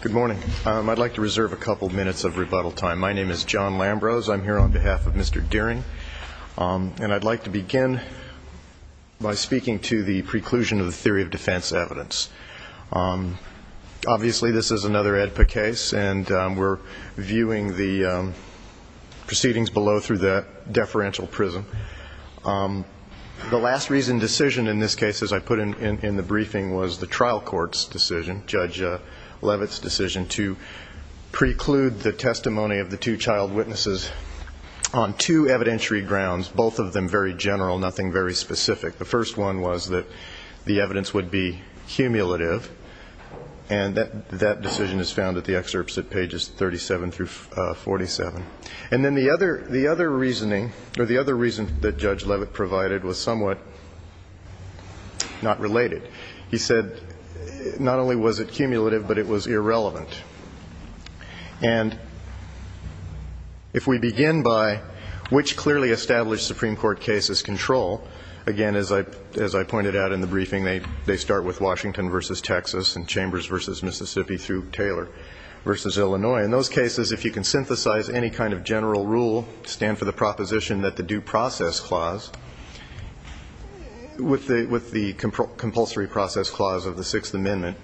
Good morning. I'd like to reserve a couple minutes of rebuttal time. My name is John Lambrose. I'm here on behalf of Mr. Dearing, and I'd like to begin by speaking to the preclusion of the theory of defense evidence. Obviously, this is another AEDPA case, and we're viewing the proceedings below through the deferential prism. The last reason decision in this case, as I put in the briefing, was the trial court's decision, Judge Leavitt's decision to preclude the testimony of the two child witnesses on two evidentiary grounds, both of them very general, nothing very specific. The first one was that the evidence would be cumulative, and that decision is found at the excerpts at pages 37 through 47. And then the other reasoning, or the other reason that Judge Leavitt provided was somewhat not related. He said not only was it cumulative, but it was irrelevant. And if we begin by which clearly established Supreme Court cases control, again, as I pointed out in the briefing, they start with Washington v. Texas and Chambers v. Mississippi through Taylor v. Illinois. In those cases, if you can synthesize any kind of general rule, stand for the proposition that the due process clause, with the compulsory process clause of the Sixth Amendment,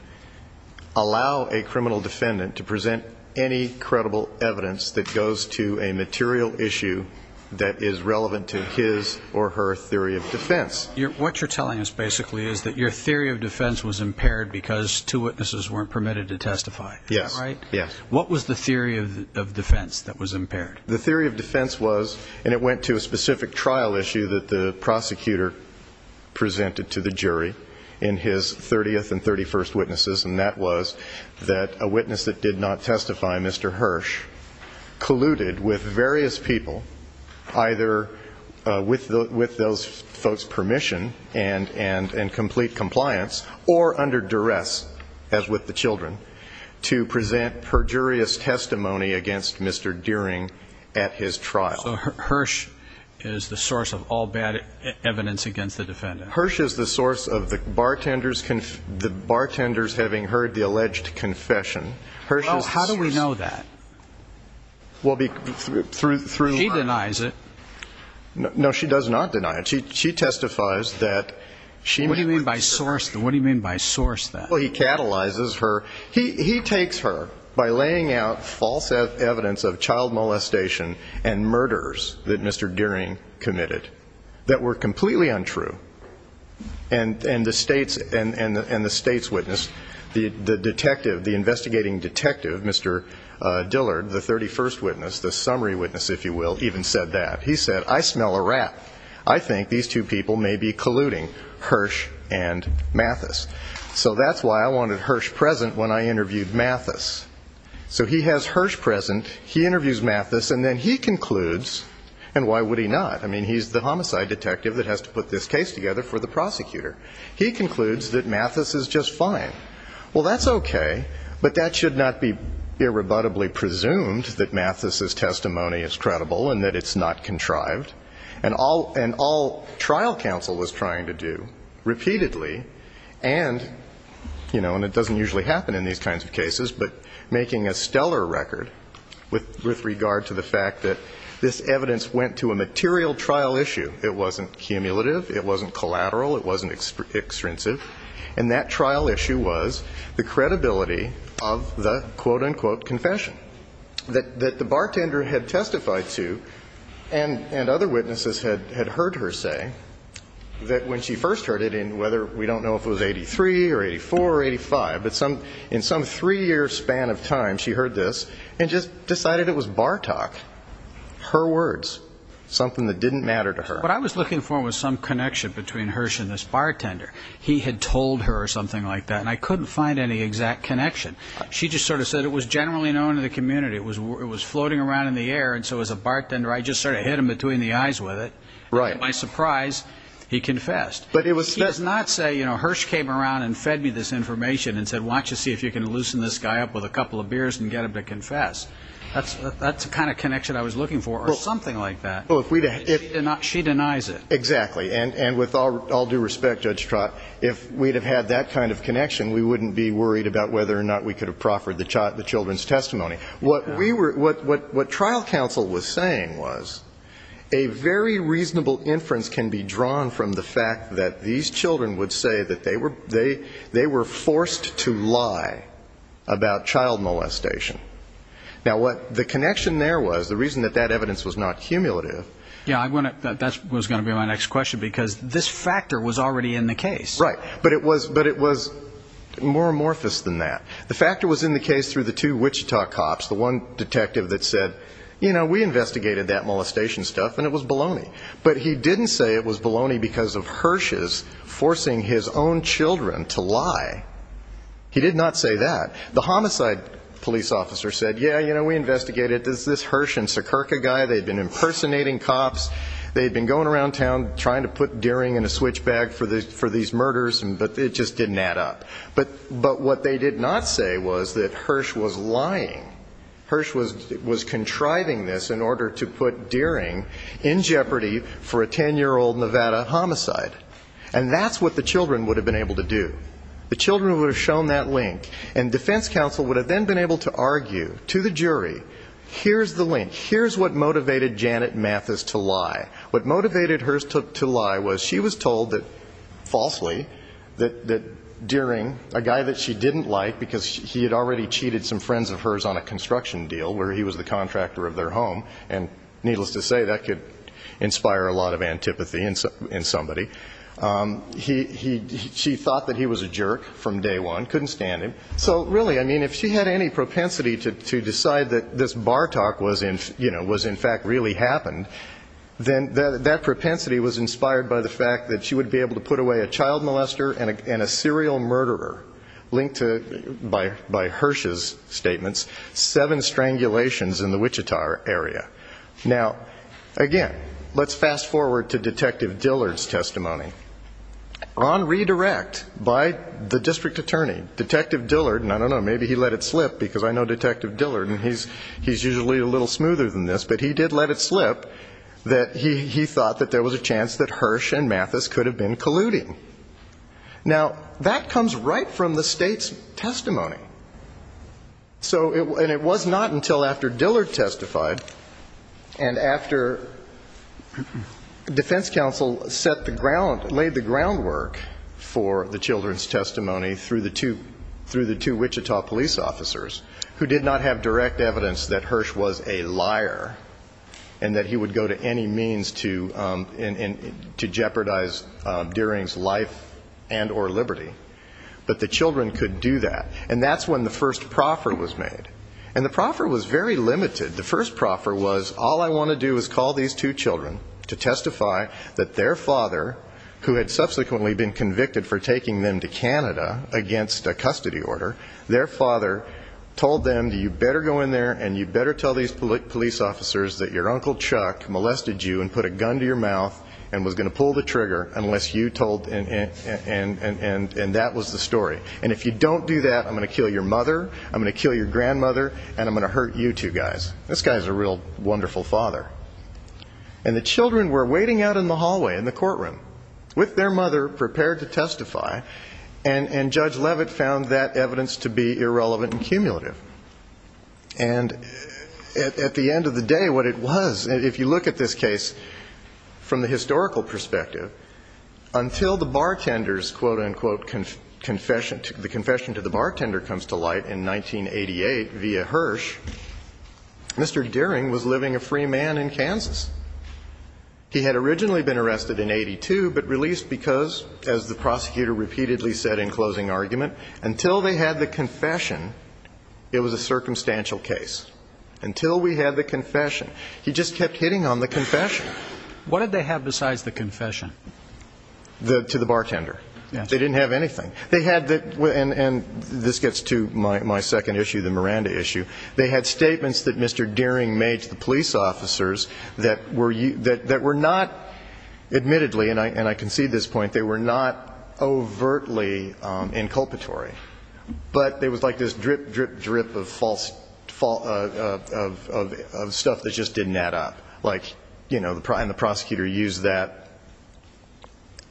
allow a criminal defendant to present any credible evidence that goes to a material issue that is relevant to his or her theory of defense. What you're telling us basically is that your theory of defense was impaired because two was impaired. The theory of defense was, and it went to a specific trial issue that the prosecutor presented to the jury in his 30th and 31st witnesses, and that was that a witness that did not testify, Mr. Hirsch, colluded with various people, either with those folks' permission and complete compliance, or under duress, as with the children, to present perjurious testimony against Mr. Deering at his trial. So Hirsch is the source of all bad evidence against the defendant. Hirsch is the source of the bartender's having heard the alleged confession. Well, how do we know that? Well, through... He denies it. No, she does not deny it. She testifies that she... What do you mean by source? What do you mean by source then? Well, he catalyzes her. He takes her by laying out false evidence of child molestation and murders that Mr. Deering committed that were completely untrue, and the state's witness, the detective, the investigating detective, Mr. Dillard, the 31st witness, the summary witness, if you will, even said that. He said, I smell a rat. I think these two people may be colluding, Hirsch and Mathis. So that's why I wanted Hirsch present when I interviewed Mathis. So he has Hirsch present, he interviews Mathis, and then he concludes, and why would he not? I mean, he's the homicide detective that has to put this case together for the prosecutor. He concludes that Mathis is just fine. Well, that's okay, but that should not be irrebuttably presumed that Mathis's testimony is credible and that it's not contrived. And all trial counsel was trying to do, repeatedly, and, you know, and it doesn't usually happen in these kinds of cases, but making a stellar record with regard to the fact that this evidence went to a material trial issue. It wasn't cumulative. It wasn't collateral. It wasn't extrinsic. And that trial issue was the credibility of the quote-unquote confession that the bartender had testified to and other witnesses had heard her say that when she first heard it in whether we don't know if it was 83 or 84 or 85, but in some three-year span of time, she heard this and just decided it was bar talk, her words, something that didn't matter to her. What I was looking for was some connection between Hirsch and this bartender. He had told her or something like that, and I couldn't find any exact connection. She just sort of said it was generally known in the community. It was floating around in the air, and so as a bartender, I just sort of hit him between the eyes with it. And to my surprise, he confessed. He did not say, you know, Hirsch came around and fed me this information and said, watch to see if you can loosen this guy up with a couple of beers and get him to confess. That's the kind of connection I was looking for, or something like that. She denies it. Exactly. And with all due respect, Judge Trott, if we'd have had that kind of connection, we wouldn't be worried about whether or not we could have proffered the children's testimony. What we were, what trial counsel was saying was, a very reasonable inference can be drawn from the fact that these children would say that they were forced to lie about child molestation. Now what the connection there was, the reason that that evidence was not cumulative. Yeah, I want to, that was going to be my next question, because this factor was already in the case. Right. But it was more amorphous than that. The factor was in the case through the two Wichita cops, the one detective that said, you know, we investigated that molestation stuff and it was baloney. But he didn't say it was baloney because of Hirsch's forcing his own children to lie. He did not say that. The homicide police officer said, yeah, you know, we investigated this, this Hirsch and Sekirka guy. They'd been impersonating cops. They'd been going around town trying to put Deering in a switch bag for the, for these kids. And they were lying. Hirsch was contriving this in order to put Deering in jeopardy for a 10-year-old Nevada homicide. And that's what the children would have been able to do. The children would have shown that link. And defense counsel would have then been able to argue to the jury, here's the link. Here's what motivated Janet Mathis to lie. What motivated Hirsch to lie was she was told that, falsely, that Deering, a guy that she didn't like because he had already cheated some friends of hers on a construction deal where he was the contractor of their home. And needless to say, that could inspire a lot of antipathy in somebody. He, she thought that he was a jerk from day one. Couldn't stand him. So really, I mean, if she had any propensity to decide that this Bartok was in, you know, was in fact really happened, then that propensity was inspired by the fact that she would be able to put away a child molester and a serial murderer linked to, by Hirsch's statements, seven strangulations in the Wichita area. Now, again, let's fast forward to Detective Dillard's testimony. On redirect by the district attorney, Detective Dillard, and I don't know, maybe he let it slip because I know Detective Dillard and he's usually a little smoother than this, but he did let it slip that he thought that there was a chance that Hirsch and Mathis could have been colluding. Now, that comes right from the state's testimony. So, and it was not until after Dillard testified and after defense counsel set the ground, laid the groundwork for the children's testimony through the two, through the two Wichita police officers who did not have direct evidence that Hirsch was a liar and that he would go to any means to jeopardize Deering's life and or liberty. But the children could do that. And that's when the first proffer was made. And the proffer was very limited. The first proffer was, all I want to do is call these two children to testify that their father, who had subsequently been convicted for taking them to Canada against a custody order, their father told them, you better go in there and you better tell these police officers that your Uncle Chuck molested you and put a gun to your mouth and was going to pull the trigger unless you told, and that was the story. And if you don't do that, I'm going to kill your mother, I'm going to kill your grandmother, and I'm going to hurt you two guys. This guy is a real wonderful father. And the children were waiting out in the hallway in the courtroom with their mother prepared to testify and Judge Leavitt found that evidence to be irrelevant and cumulative. And at the end of the day, what it was, if you look at this case from the historical perspective, until the bartender's, quote, unquote, confession, the confession to the bartender comes to light in 1988 via Hirsch, Mr. Deering was living a free man in Kansas. He had originally been arrested in 82, but released because, as the prosecutor repeatedly said in closing argument, until they had the confession, it was a circumstantial case. Until we had the confession. He just kept hitting on the confession. What did they have besides the confession? To the bartender. They didn't have anything. They had, and this gets to my second issue, the Miranda issue, they had statements that Mr. Deering made to the police officers that were not, admittedly, and I concede this point, they were not overtly inculpatory. But there was like this drip, drip, drip of stuff that just didn't add up. And the prosecutor used that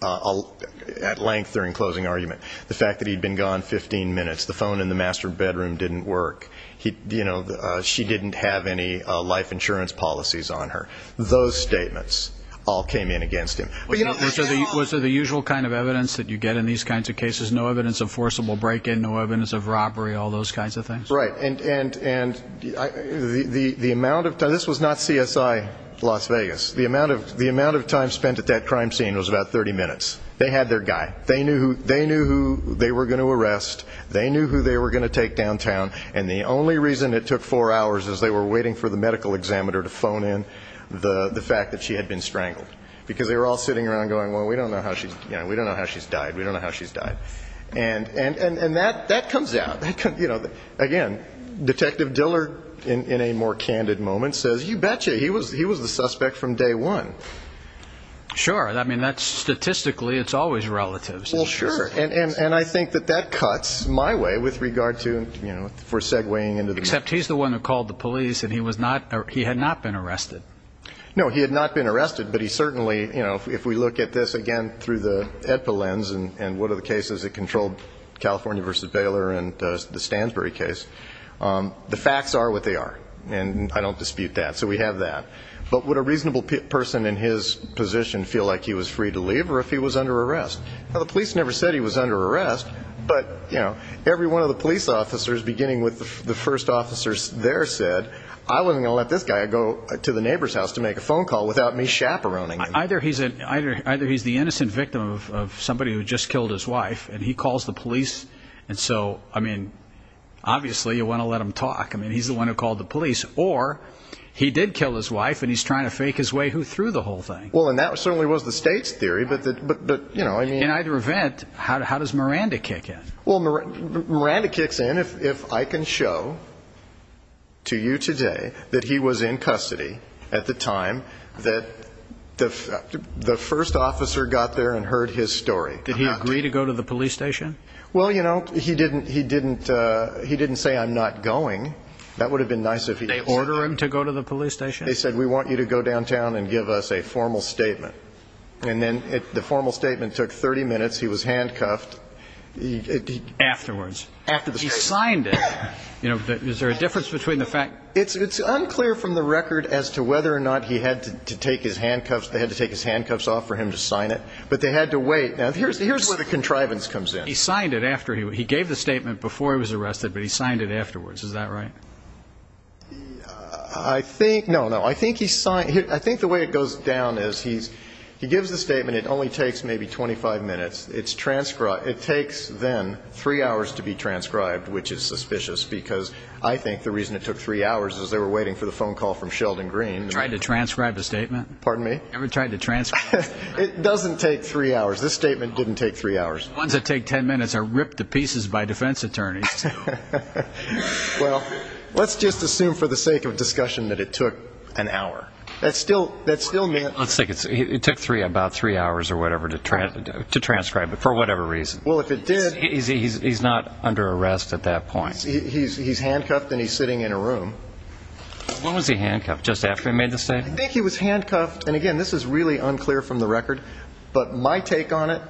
at length during closing argument. The fact that he'd been gone 15 minutes, the phone in the master bedroom didn't work, you know, she didn't have any life insurance policies on her. Those statements all came in against him. Was there the usual kind of evidence that you get in these kinds of cases? No evidence of forcible break-in, no evidence of robbery, all those kinds of things? Right. And the amount of time, this was not CSI Las Vegas, the amount of time spent at that crime scene was about 30 minutes. They had their guy. They knew who they were going to arrest. They knew who they were going to take downtown. And the only reason it took four hours is they were waiting for the medical examiner to phone in the fact that she had been strangled. Because they were all sitting around going, well, we don't know how she's died. We don't know how she's died. And that comes out. Again, Detective Diller, in a more candid moment, says, you betcha, he was the suspect from day one. Sure. I mean, that's statistically, it's always relatives. Well, sure. And I think that that cuts my way with regard to, you know, for segwaying into the case. Except he's the one who called the police and he was not, he had not been arrested. No, he had not been arrested. But he certainly, you know, if we look at this again through the EDPA lens and what are the cases that controlled California v. Baylor and the Stansbury case, the facts are what they are. And I don't dispute that. So we have that. But would a man in his position feel like he was free to leave or if he was under arrest? The police never said he was under arrest. But, you know, every one of the police officers, beginning with the first officers there, said, I wasn't going to let this guy go to the neighbor's house to make a phone call without me chaperoning him. Either he's the innocent victim of somebody who just killed his wife and he calls the police. And so, I mean, obviously, you want to let him talk. I mean, he's the one who called the police. Or he did kill his wife and he's trying to fake his way through the whole thing. Well, and that certainly was the state's theory. But, you know, I mean, in either event, how does Miranda kick in? Well, Miranda kicks in if I can show to you today that he was in custody at the time that the first officer got there and heard his story. Did he agree to go to the police station? Well, you know, he didn't. He didn't. He didn't say I'm not going. That would have been nice if they order him to go to the police station. They said, we want you to go downtown and give us a formal statement. And then the formal statement took 30 minutes. He was handcuffed. Afterwards. He signed it. You know, is there a difference between the fact? It's unclear from the record as to whether or not he had to take his handcuffs. They had to take his handcuffs off for him to sign it. But they had to wait. Now, here's where the contrivance comes in. He signed it after he gave the statement before he was arrested, but he signed it afterwards. Is that right? I think. No, no, I think he saw it. I think the way it goes down is he's he gives the statement. It only takes maybe twenty five minutes. It's transcribed. It takes then three hours to be transcribed, which is suspicious because I think the reason it took three hours is they were waiting for the phone call from Sheldon Green. Tried to transcribe the statement. Pardon me. Ever tried to transcribe. It doesn't take three hours. This statement didn't take three hours. The ones that take ten minutes are ripped to pieces by defense attorneys. Well, let's just assume for the sake of discussion that it took an hour. That's still that's still me. Let's take it. It took three about three hours or whatever to try to transcribe it for whatever reason. Well, if it did, he's not under arrest at that point. He's handcuffed and he's sitting in a room. When was he handcuffed? Just after he made the statement? I think he was handcuffed. And again, this is really unclear from the record. But my take on it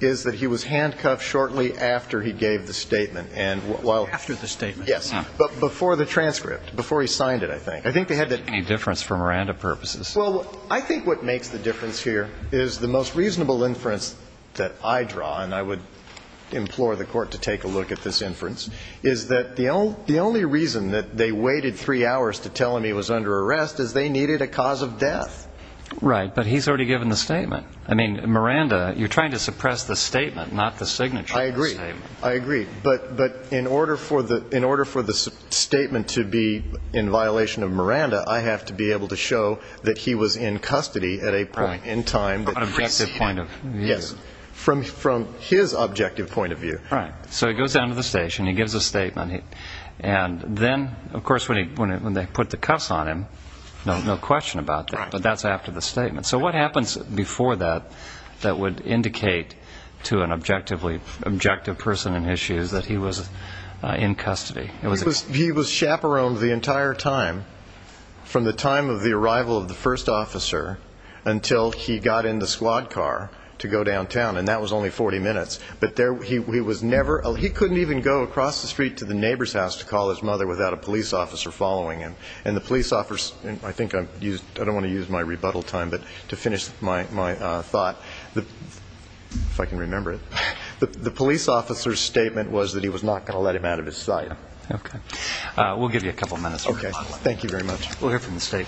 is that he was handcuffed shortly after he gave the statement. And well, after the statement. Yes. But before the transcript, before he signed it, I think I think they had any difference for Miranda purposes. Well, I think what makes the difference here is the most reasonable inference that I draw. And I would implore the court to take a look at this inference is that the the only reason that they waited three hours to tell him he was under arrest is they needed a cause of death. Right. But he's already given the statement. I mean, Miranda, you're trying to suppress the statement, not the signature. I agree. I agree. But but in order for the in order for the statement to be in violation of Miranda, I have to be able to show that he was in custody at a point in time. Objective point of view. Yes. From from his objective point of view. All right. So he goes down to the station, he gives a statement. And then, of course, when he when when they put the cuffs on him, no question about that. But that's after the statement. So what happens before that? That would indicate to an objectively objective person and issues that he was in custody. It was he was chaperoned the entire time from the time of the arrival of the first officer until he got in the squad car to go downtown. And that was only 40 minutes. But there he was never he couldn't even go across the street to the neighbor's house to call his mother without a police officer following him. And the police officer, I think I've used I don't want to use my rebuttal time, but to finish my thought, the if I can remember it, the police officer's statement was that he was not going to let him out of his sight. OK, we'll give you a couple of minutes. OK, thank you very much. We'll hear from the state.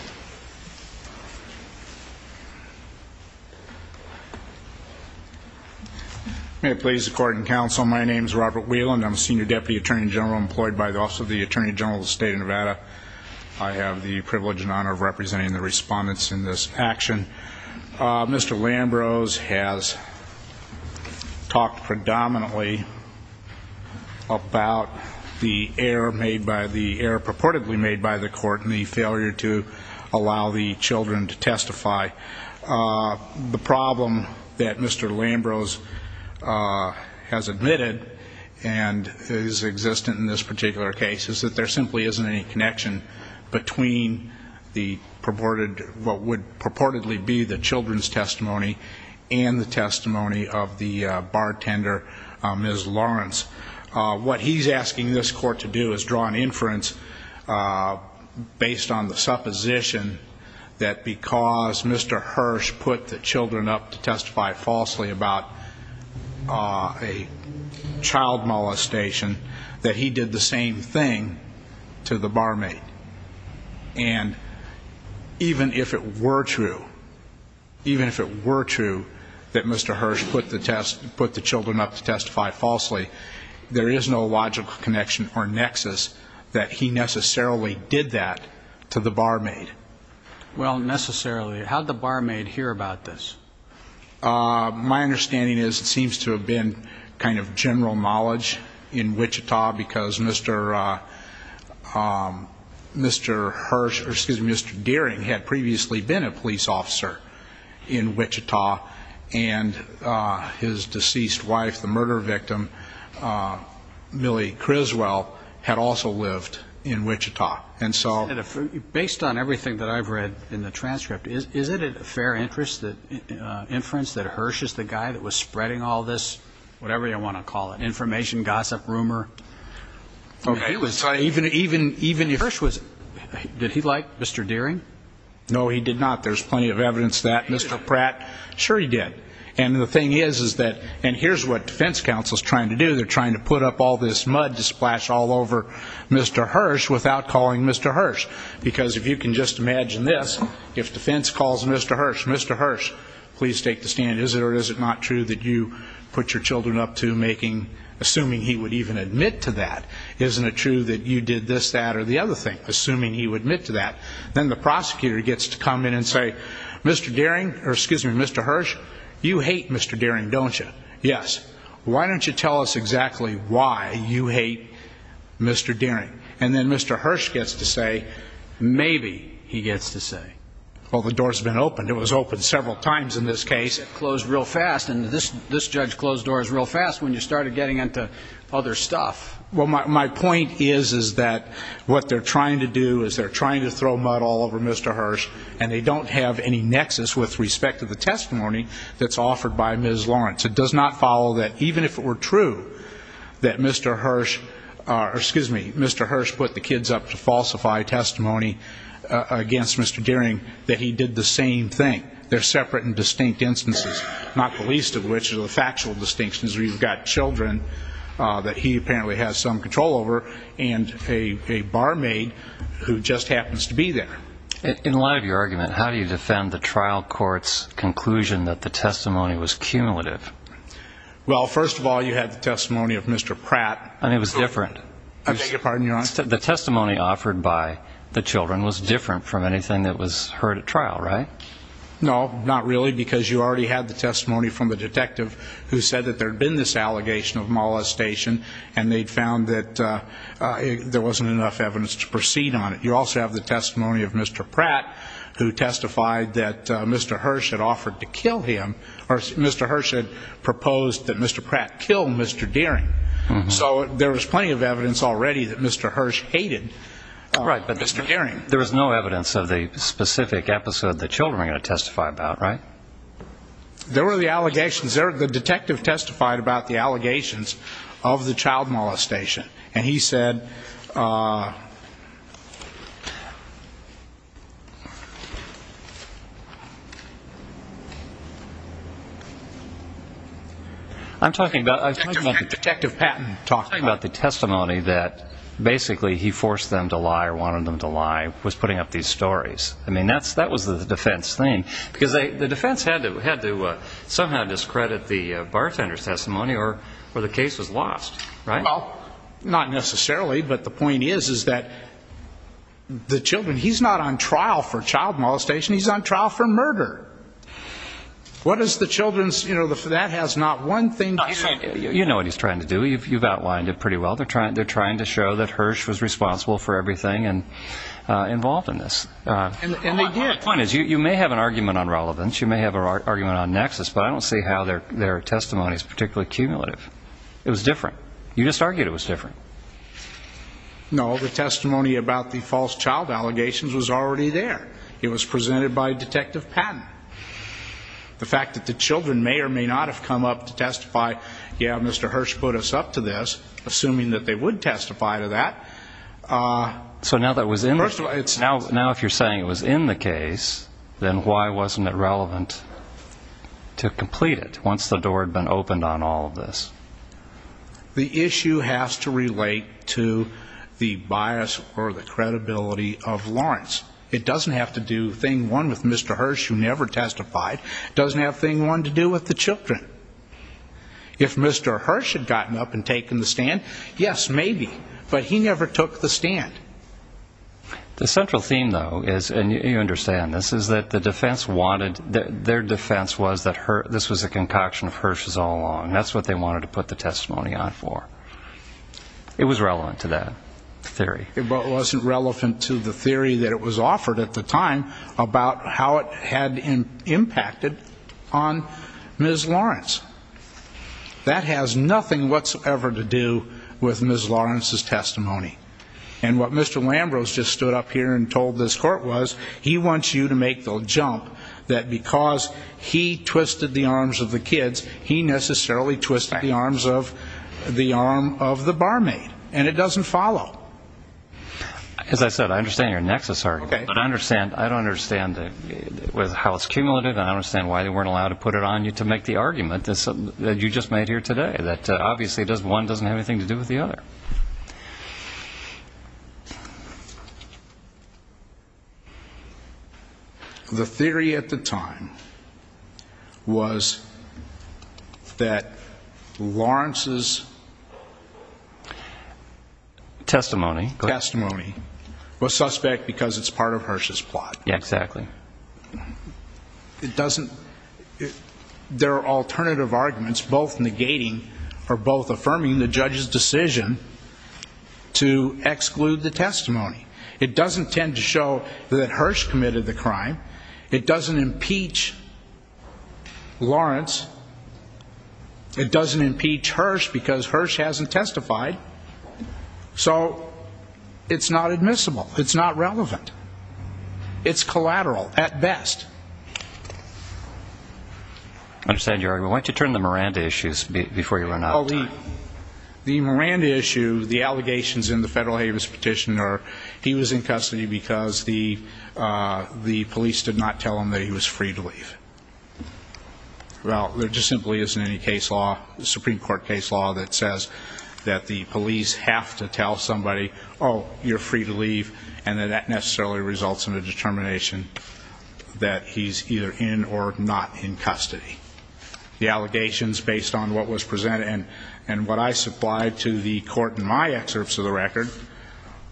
May it please the court and counsel, my name is Robert Whelan. I'm a senior deputy attorney general employed by the Office of the Attorney General of the State of Nevada. I have the privilege and honor of representing the respondents in this action. Mr. Lambrose has talked predominantly about the error made by the error purportedly made by the court and the failure to allow the children to testify. The problem that Mr. Lambrose has admitted and is existent in this particular case is that there simply isn't any connection between the purported what would purportedly be the children's testimony and the testimony of the bartender, Ms. Lawrence. What he's asking this court to do is draw an inference based on the supposition that because Mr. Hirsch put the children up to testify falsely about a child molestation, that he did the same thing to the barmaid. And even if it were true, even if it were true that Mr. Hirsch put the children up to testify falsely, there is no logical connection or nexus that he necessarily did that to the barmaid. Well, necessarily. How did the barmaid hear about this? My understanding is it seems to have been kind of general knowledge in Wichita because Mr. Hirsch, or excuse me, Mr. Dearing had previously been a police officer in Wichita and his deceased wife, the murder victim, Millie Criswell, had also lived in Wichita. And so based on everything that I've read in the transcript, is it a fair inference that Hirsch is the guy that was spreading all this, whatever you want to call it, information gossip rumor? Okay. Even if Hirsch was, did he like Mr. Dearing? No, he did not. There's plenty of evidence that Mr. Pratt, sure he did. And the thing is, is that, and here's what defense counsel is trying to do, they're trying to put up all this mud to splash all over Mr. Hirsch without calling Mr. Hirsch. Because if you can just imagine this, if defense calls Mr. Hirsch, Mr. Hirsch, please take the stand. Is it or is it not true that you put your children up to making, assuming he would even admit to that? Isn't it true that you did this, that, or the other thing, assuming he would admit to that? Then the prosecutor gets to come in and say, Mr. Dearing, or excuse me, Mr. Hirsch, you hate Mr. Dearing, don't you? Yes. Why don't you tell us exactly why you hate Mr. Dearing? And then Mr. Hirsch gets to say, maybe he gets to say, well, the door's been opened. It was opened several times in this case. It closed real fast. And this, this judge closed doors real fast when you started getting into other stuff. Well, my, my point is, is that what they're trying to do is they're trying to throw mud all over Mr. Hirsch and they don't have any nexus with respect to the testimony that's offered by Ms. Lawrence. It does not follow that even if it were true that Mr. Hirsch, or excuse me, Mr. Hirsch put the kids up to falsify testimony against Mr. Dearing, that he did the same thing. They're separate and distinct instances, not the least of which are the factual distinctions where you've got children that he apparently has some control over and a, a barmaid who just happens to be there. In light of your argument, how do you defend the trial court's conclusion that the testimony was cumulative? Well, first of all, you had the testimony of Mr. Pratt. And it was different. I beg your pardon, Your Honor? The testimony offered by the children was different from anything that was heard at trial, right? No, not really, because you already had the testimony from the detective who said that there'd been this allegation of molestation and they'd found that, uh, there wasn't enough evidence to proceed on it. You also have the testimony of Mr. Pratt, who testified that, uh, Mr. Hirsch had offered to kill him, or Mr. Hirsch had proposed that Mr. Pratt killed Mr. Dearing. So there was plenty of evidence already that Mr. Hirsch hated, uh, Mr. Dearing. Right, but there was no evidence of the specific episode the children were going to testify about, right? There were the allegations. There, the detective testified about the allegations of the child molestation. And he said, uh, I'm talking about the testimony that basically he forced them to lie or wanted them to lie was putting up these stories. I mean, that's, that was the defense thing because they, the defense had to, had to, uh, somehow discredit the, uh, bartender's testimony or, or the case was lost, right? Well, not necessarily, but the point is, is that the children, he's not on trial for child molestation. He's on trial for murder. What is the children's, you know, that has not one thing to do. You know what he's trying to do. You've, you've outlined it pretty well. They're trying, they're trying to show that Hirsch was responsible for everything and, uh, involved in this. Uh, and the point is you may have an argument on relevance. You may have an argument on nexus, but I don't see how their, their testimony is particularly cumulative. It was different. You just argued it was different. No, the testimony about the false child allegations was already there. It was presented by detective Patton. The fact that the children may or may not have come up to testify, yeah, Mr. Hirsch put us up to this, assuming that they would testify to that. Uh, so now that was in, now, now if you're saying it was in the case, then why wasn't it relevant to complete it once the door had been opened on all of this? The issue has to relate to the bias or the credibility of Lawrence. It doesn't have to do thing one with Mr. Hirsch, who never testified, doesn't have thing one to do with the children. If Mr. Hirsch had gotten up and taken the stand, yes, maybe, but he never took the stand. The central theme, though, is, and you understand this, is that the defense wanted, their defense was that Hirsch, this was a concoction of Hirsch's all along. That's what they wanted to put the testimony on for. It was relevant to that theory. It wasn't relevant to the theory that it was offered at the time about how it had impacted on Ms. Lawrence. That has nothing whatsoever to do with Ms. Lawrence's testimony. And what Mr. Lambrose just stood up here and told this court was, he wants you to make the jump that because he twisted the arms of the kids, he necessarily twisted the arms of the arm of the barmaid. And it doesn't follow. As I said, I understand your nexus argument. I understand, I don't understand how it's cumulative and I don't understand why they weren't allowed to put it on you to make the argument that you just made here today, that obviously one doesn't have anything to do with the other. The theory at the time was that Lawrence's testimony was not relevant to Ms. Lawrence's testimony. Testimony was suspect because it's part of Hirsch's plot. Yeah, exactly. It doesn't, there are alternative arguments both negating or both affirming the judge's decision to exclude the testimony. It doesn't tend to show that Hirsch committed the crime. It doesn't impeach Lawrence. It doesn't impeach Hirsch because Hirsch hasn't testified. So, it's not admissible. It's not relevant. It's collateral, at best. I understand your argument. Why don't you turn to the Miranda issues before you run out of time. The Miranda issue, the allegations in the Federal Habeas Petition are he was in custody because the police did not tell him that he was free to leave. Well, there just simply isn't any case law, Supreme Court case law that says that the police have to tell somebody, oh, you're free to leave and that necessarily results in a determination that he's either in or not in custody. The allegations based on what was presented and what I supplied to the court in my excerpts of the record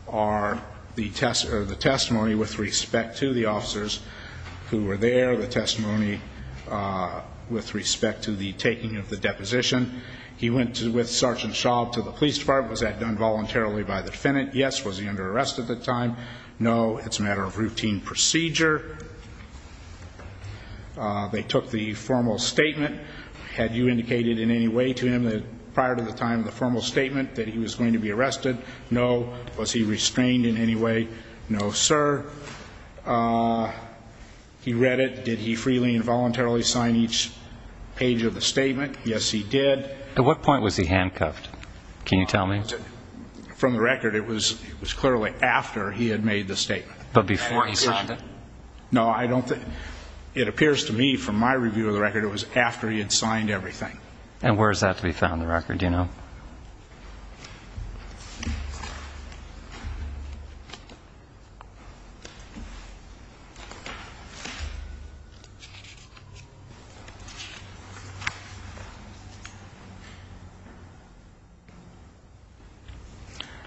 are the testimony with respect to the officers who were there, the testimony with respect to the taking of the deposition. He went with Sergeant Shaw to the police department. Was that done voluntarily by the defendant? Yes. Was he under arrest at the time? No. It's a matter of routine procedure. They took the formal statement. Had you indicated in any way to him that prior to the time of the formal statement that he was going to be arrested? No. Was he restrained in any way? No, sir. He read it. Did he freely and voluntarily sign each page of the statement? Yes, he did. At what point was he handcuffed? Can you tell me? From the record, it was clearly after he had made the statement. But before he signed it? No, I don't think. It appears to me from my review of the record, it was after he had signed everything. And where is that to be found in the record? Do you know?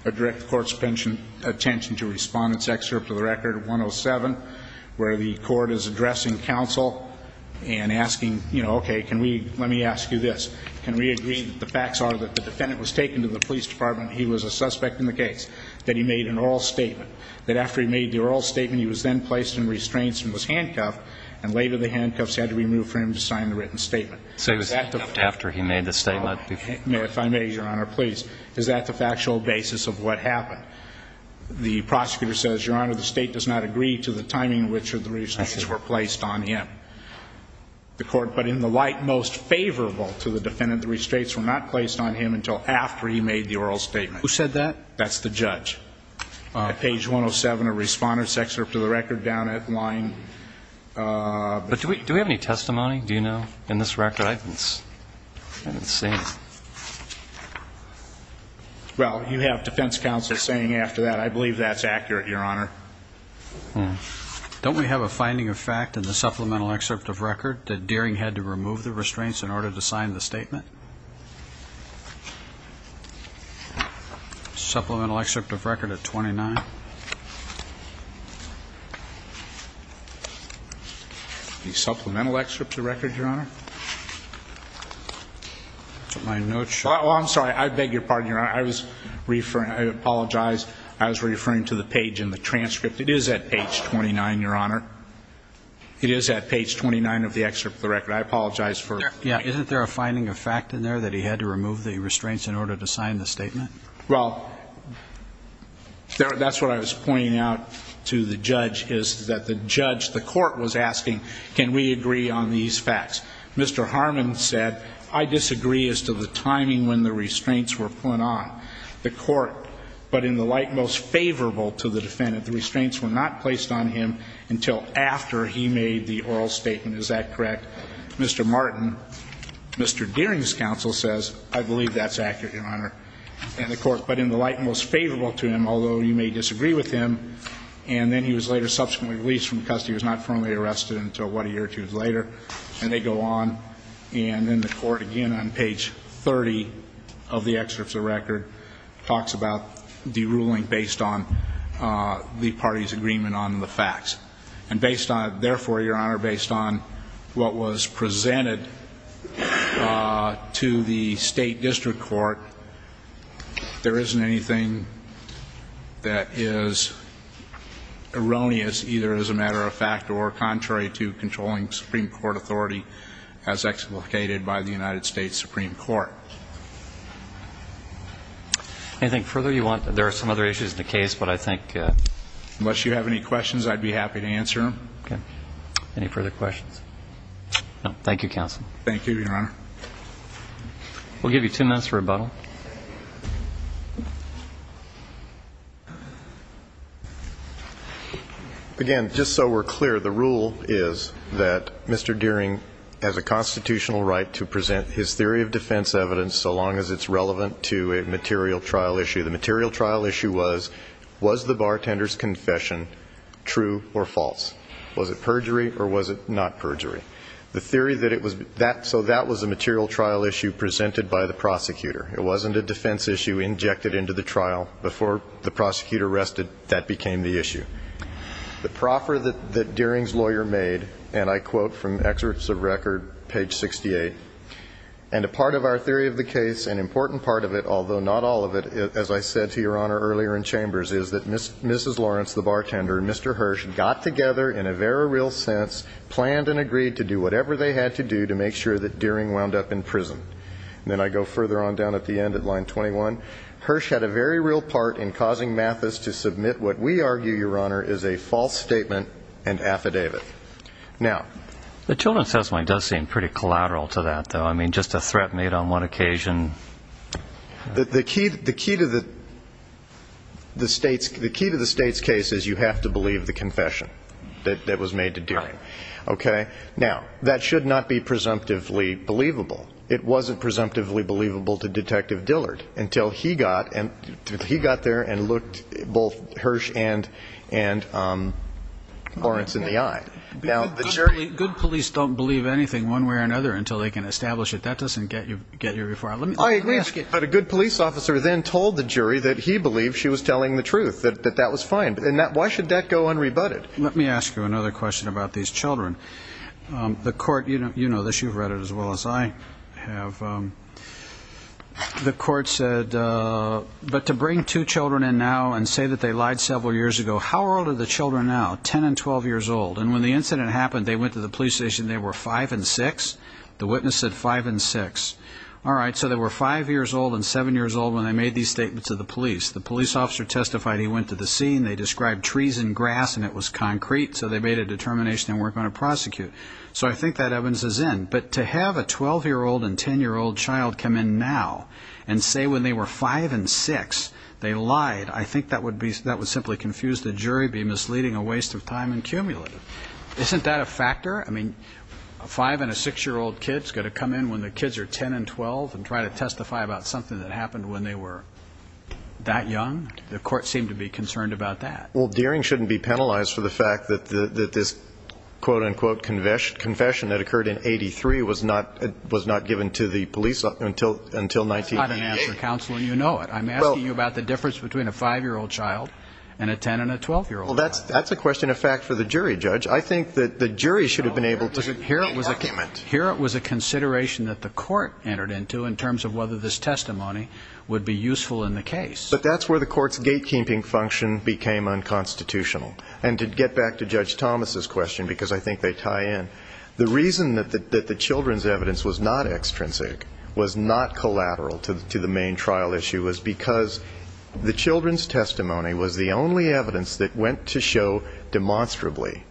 I direct the Court's attention to Respondent's Excerpt of the Record 107, where the Court is addressing counsel and asking, you know, okay, let me ask you this. Can we agree that the facts are that the defendant was taken to the police department, he was a suspect in the case, that he made an oral statement, that after he made the oral statement he was then placed in restraints and was handcuffed, and later the handcuffs had to be removed for him to sign the written statement? So he was handcuffed after he made the statement? If I may, Your Honor, please. Is that the factual basis of what happened? The prosecutor says, Your Honor, the State does not agree to the timing in which the restraints were placed on him. The Court, but in the light most favorable to the defendant, the restraints were not placed on him until after he made the oral statement. Who said that? That's the judge. At page 107 of Respondent's Excerpt of the Record down at line... But do we have any testimony, do you know, in this record? I haven't seen it. Well, you have defense counsel saying after that, I believe that's accurate, Your Honor. Don't we have a finding of fact in the Supplemental Excerpt of Record that Deering had to remove the restraints in order to sign the statement? Supplemental Excerpt of Record at 29. The Supplemental Excerpt of Record, Your Honor? My notes show... Well, I'm sorry. I beg your pardon, Your Honor. I apologize. I was referring to the page in the transcript. It is at page 29, Your Honor. It is at page 29 of the Excerpt of the Record. I apologize for... Yeah. Isn't there a finding of fact in there that he had to remove the restraints in order to sign the statement? Well, that's what I was pointing out to the judge, is that the judge, the Court, was asking, can we agree on these facts? Mr. Harmon said, I disagree as to the timing when the restraints were put on the Court, but in the light most favorable to the defendant, the restraints were not placed on him until after he made the oral statement. Is that correct? Mr. Martin, Mr. Deering's counsel says, I believe that's accurate, Your Honor, and the Court, but in the light most favorable to him, although you may disagree with him, and then he was later subsequently released from custody. He was not formally arrested until what a year or two later, and they go on. And then the Court, again, on page 30 of the Excerpt of the Record, talks about the ruling based on the party's agreement on the facts. And based on it, therefore, Your Honor, based on what was presented to the State District Court, there isn't anything that is erroneous, either as a matter of fact or contrary to the statute. And so I think that's correct, Your Honor. Anything further you want? There are some other issues in the case, but I think unless you have any questions, I'd be happy to answer them. Okay. Any further questions? No. Thank you, counsel. Thank you, Your Honor. We'll give you two minutes for rebuttal. Again, just so we're clear, the rule is that Mr. Deering has a constitutional right to present his theory of defense evidence so long as it's relevant to a material trial issue. The material trial issue was, was the bartender's confession true or false? Was it perjury or was it not perjury? So that was a material trial issue presented by the prosecutor. It wasn't a defense issue injected into the trial. Before the prosecutor rested, that became the issue. The proffer that Deering's lawyer made, and I quote from Excerpts of Record, page 68, and a part of our theory of the case and important part of it, although not all of it, as I said to Your Honor earlier in Chambers, is that Mrs. Lawrence, the bartender, and Mr. Hirsch got together in a very real sense, planned and agreed to do whatever they had to do to make sure that Deering wound up in prison. And then I go further on down at the end at line 21. Hirsch had a very real part in causing Mathis to submit what we argue, Your Honor, is a false statement and affidavit. The children's testimony does seem pretty collateral to that, though. I mean, just a threat made on one occasion. The key to the state's case is you have to believe the confession that was made to Deering. Okay? Now, that should not be presumptively believable. It wasn't presumptively believable to Detective Dillard until he got there and looked both Hirsch and Lawrence in the eye. Good police don't believe anything one way or another until they can establish it. That doesn't get you very far. I agree, but a good police officer then told the jury that he believed she was telling the truth, that that was fine. Why should that go unrebutted? Let me ask you another question about these children. The court, you know this. You've read it as well as I have. The court said, but to bring two children in now and say that they lied several years ago, how old are the children now, 10 and 12 years old? And when the incident happened, they went to the police station and they were 5 and 6? The witness said 5 and 6. All right, so they were 5 years old and 7 years old when they made these statements to the police. The police officer testified he went to the scene. They described trees and grass and it was concrete, so they made a determination they weren't going to prosecute. So I think that evidences in. But to have a 12-year-old and 10-year-old child come in now and say when they were 5 and 6, they lied, I think that would simply confuse the jury, be misleading, a waste of time and cumulative. Isn't that a factor? I mean, a 5 and a 6-year-old kid's got to come in when the kids are 10 and 12 and try to testify about something that happened when they were that young? The court seemed to be concerned about that. Well, Deering shouldn't be penalized for the fact that this quote-unquote confession that occurred in 83 was not given to the police until 1988. That's not an answer, counsel, and you know it. I'm asking you about the difference between a 5-year-old child and a 10- and a 12-year-old child. Well, that's a question of fact for the jury, Judge. I think that the jury should have been able to make an argument. Here it was a consideration that the court entered into in terms of whether this testimony would be useful in the case. But that's where the court's gatekeeping function became unconstitutional. And to get back to Judge Thomas's question, because I think they tie in, the reason that the children's evidence was not extrinsic, was not collateral to the main trial issue, was because the children's testimony was the only evidence that went to show demonstrably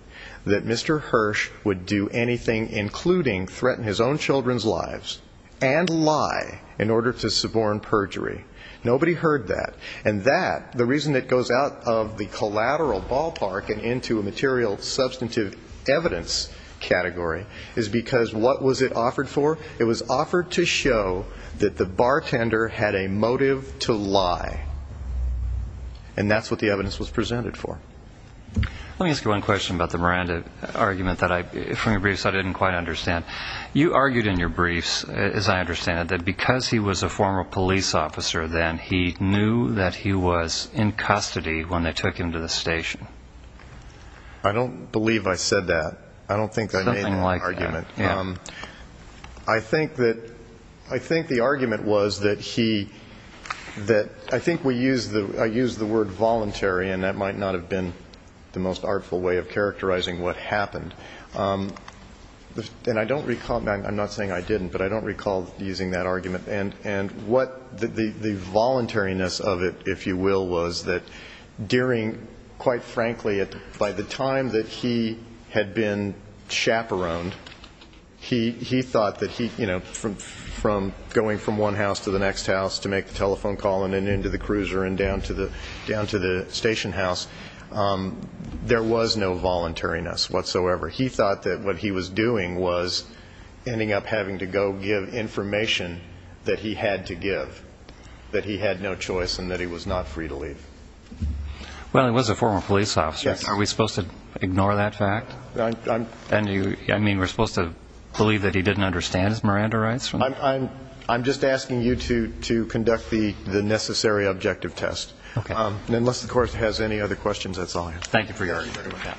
that Mr. Hirsch would do anything, including threaten his own children's lives and lie in order to suborn perjury. Nobody heard that. And that, the reason it goes out of the collateral ballpark and into a material substantive evidence-based evidence-based category, is because what was it offered for? It was offered to show that the bartender had a motive to lie. And that's what the evidence was presented for. You argued in your briefs, as I understand it, that because he was a former police officer then, he knew that he was in custody when they took him to the station. I don't think I made that argument. I think the argument was that he, I think I used the word voluntary, and that might not have been the most artful way of characterizing what happened. And I don't recall, I'm not saying I didn't, but I don't recall using that argument. And the voluntariness of it, if you will, was that during, quite frankly, by the time that he had been chaperoned, he thought that he, you know, from going from one house to the next house to make the telephone call and then into the cruiser and down to the station house, there was no voluntariness whatsoever. He thought that what he was doing was ending up having to go give information that he had to give, that he had no choice and that he was not free to leave. Well, he was a former police officer. Are we supposed to ignore that fact? I mean, we're supposed to believe that he didn't understand his Miranda rights? I'm just asking you to conduct the necessary objective test. Unless the Court has any other questions, that's all I have. Thank you for your argument.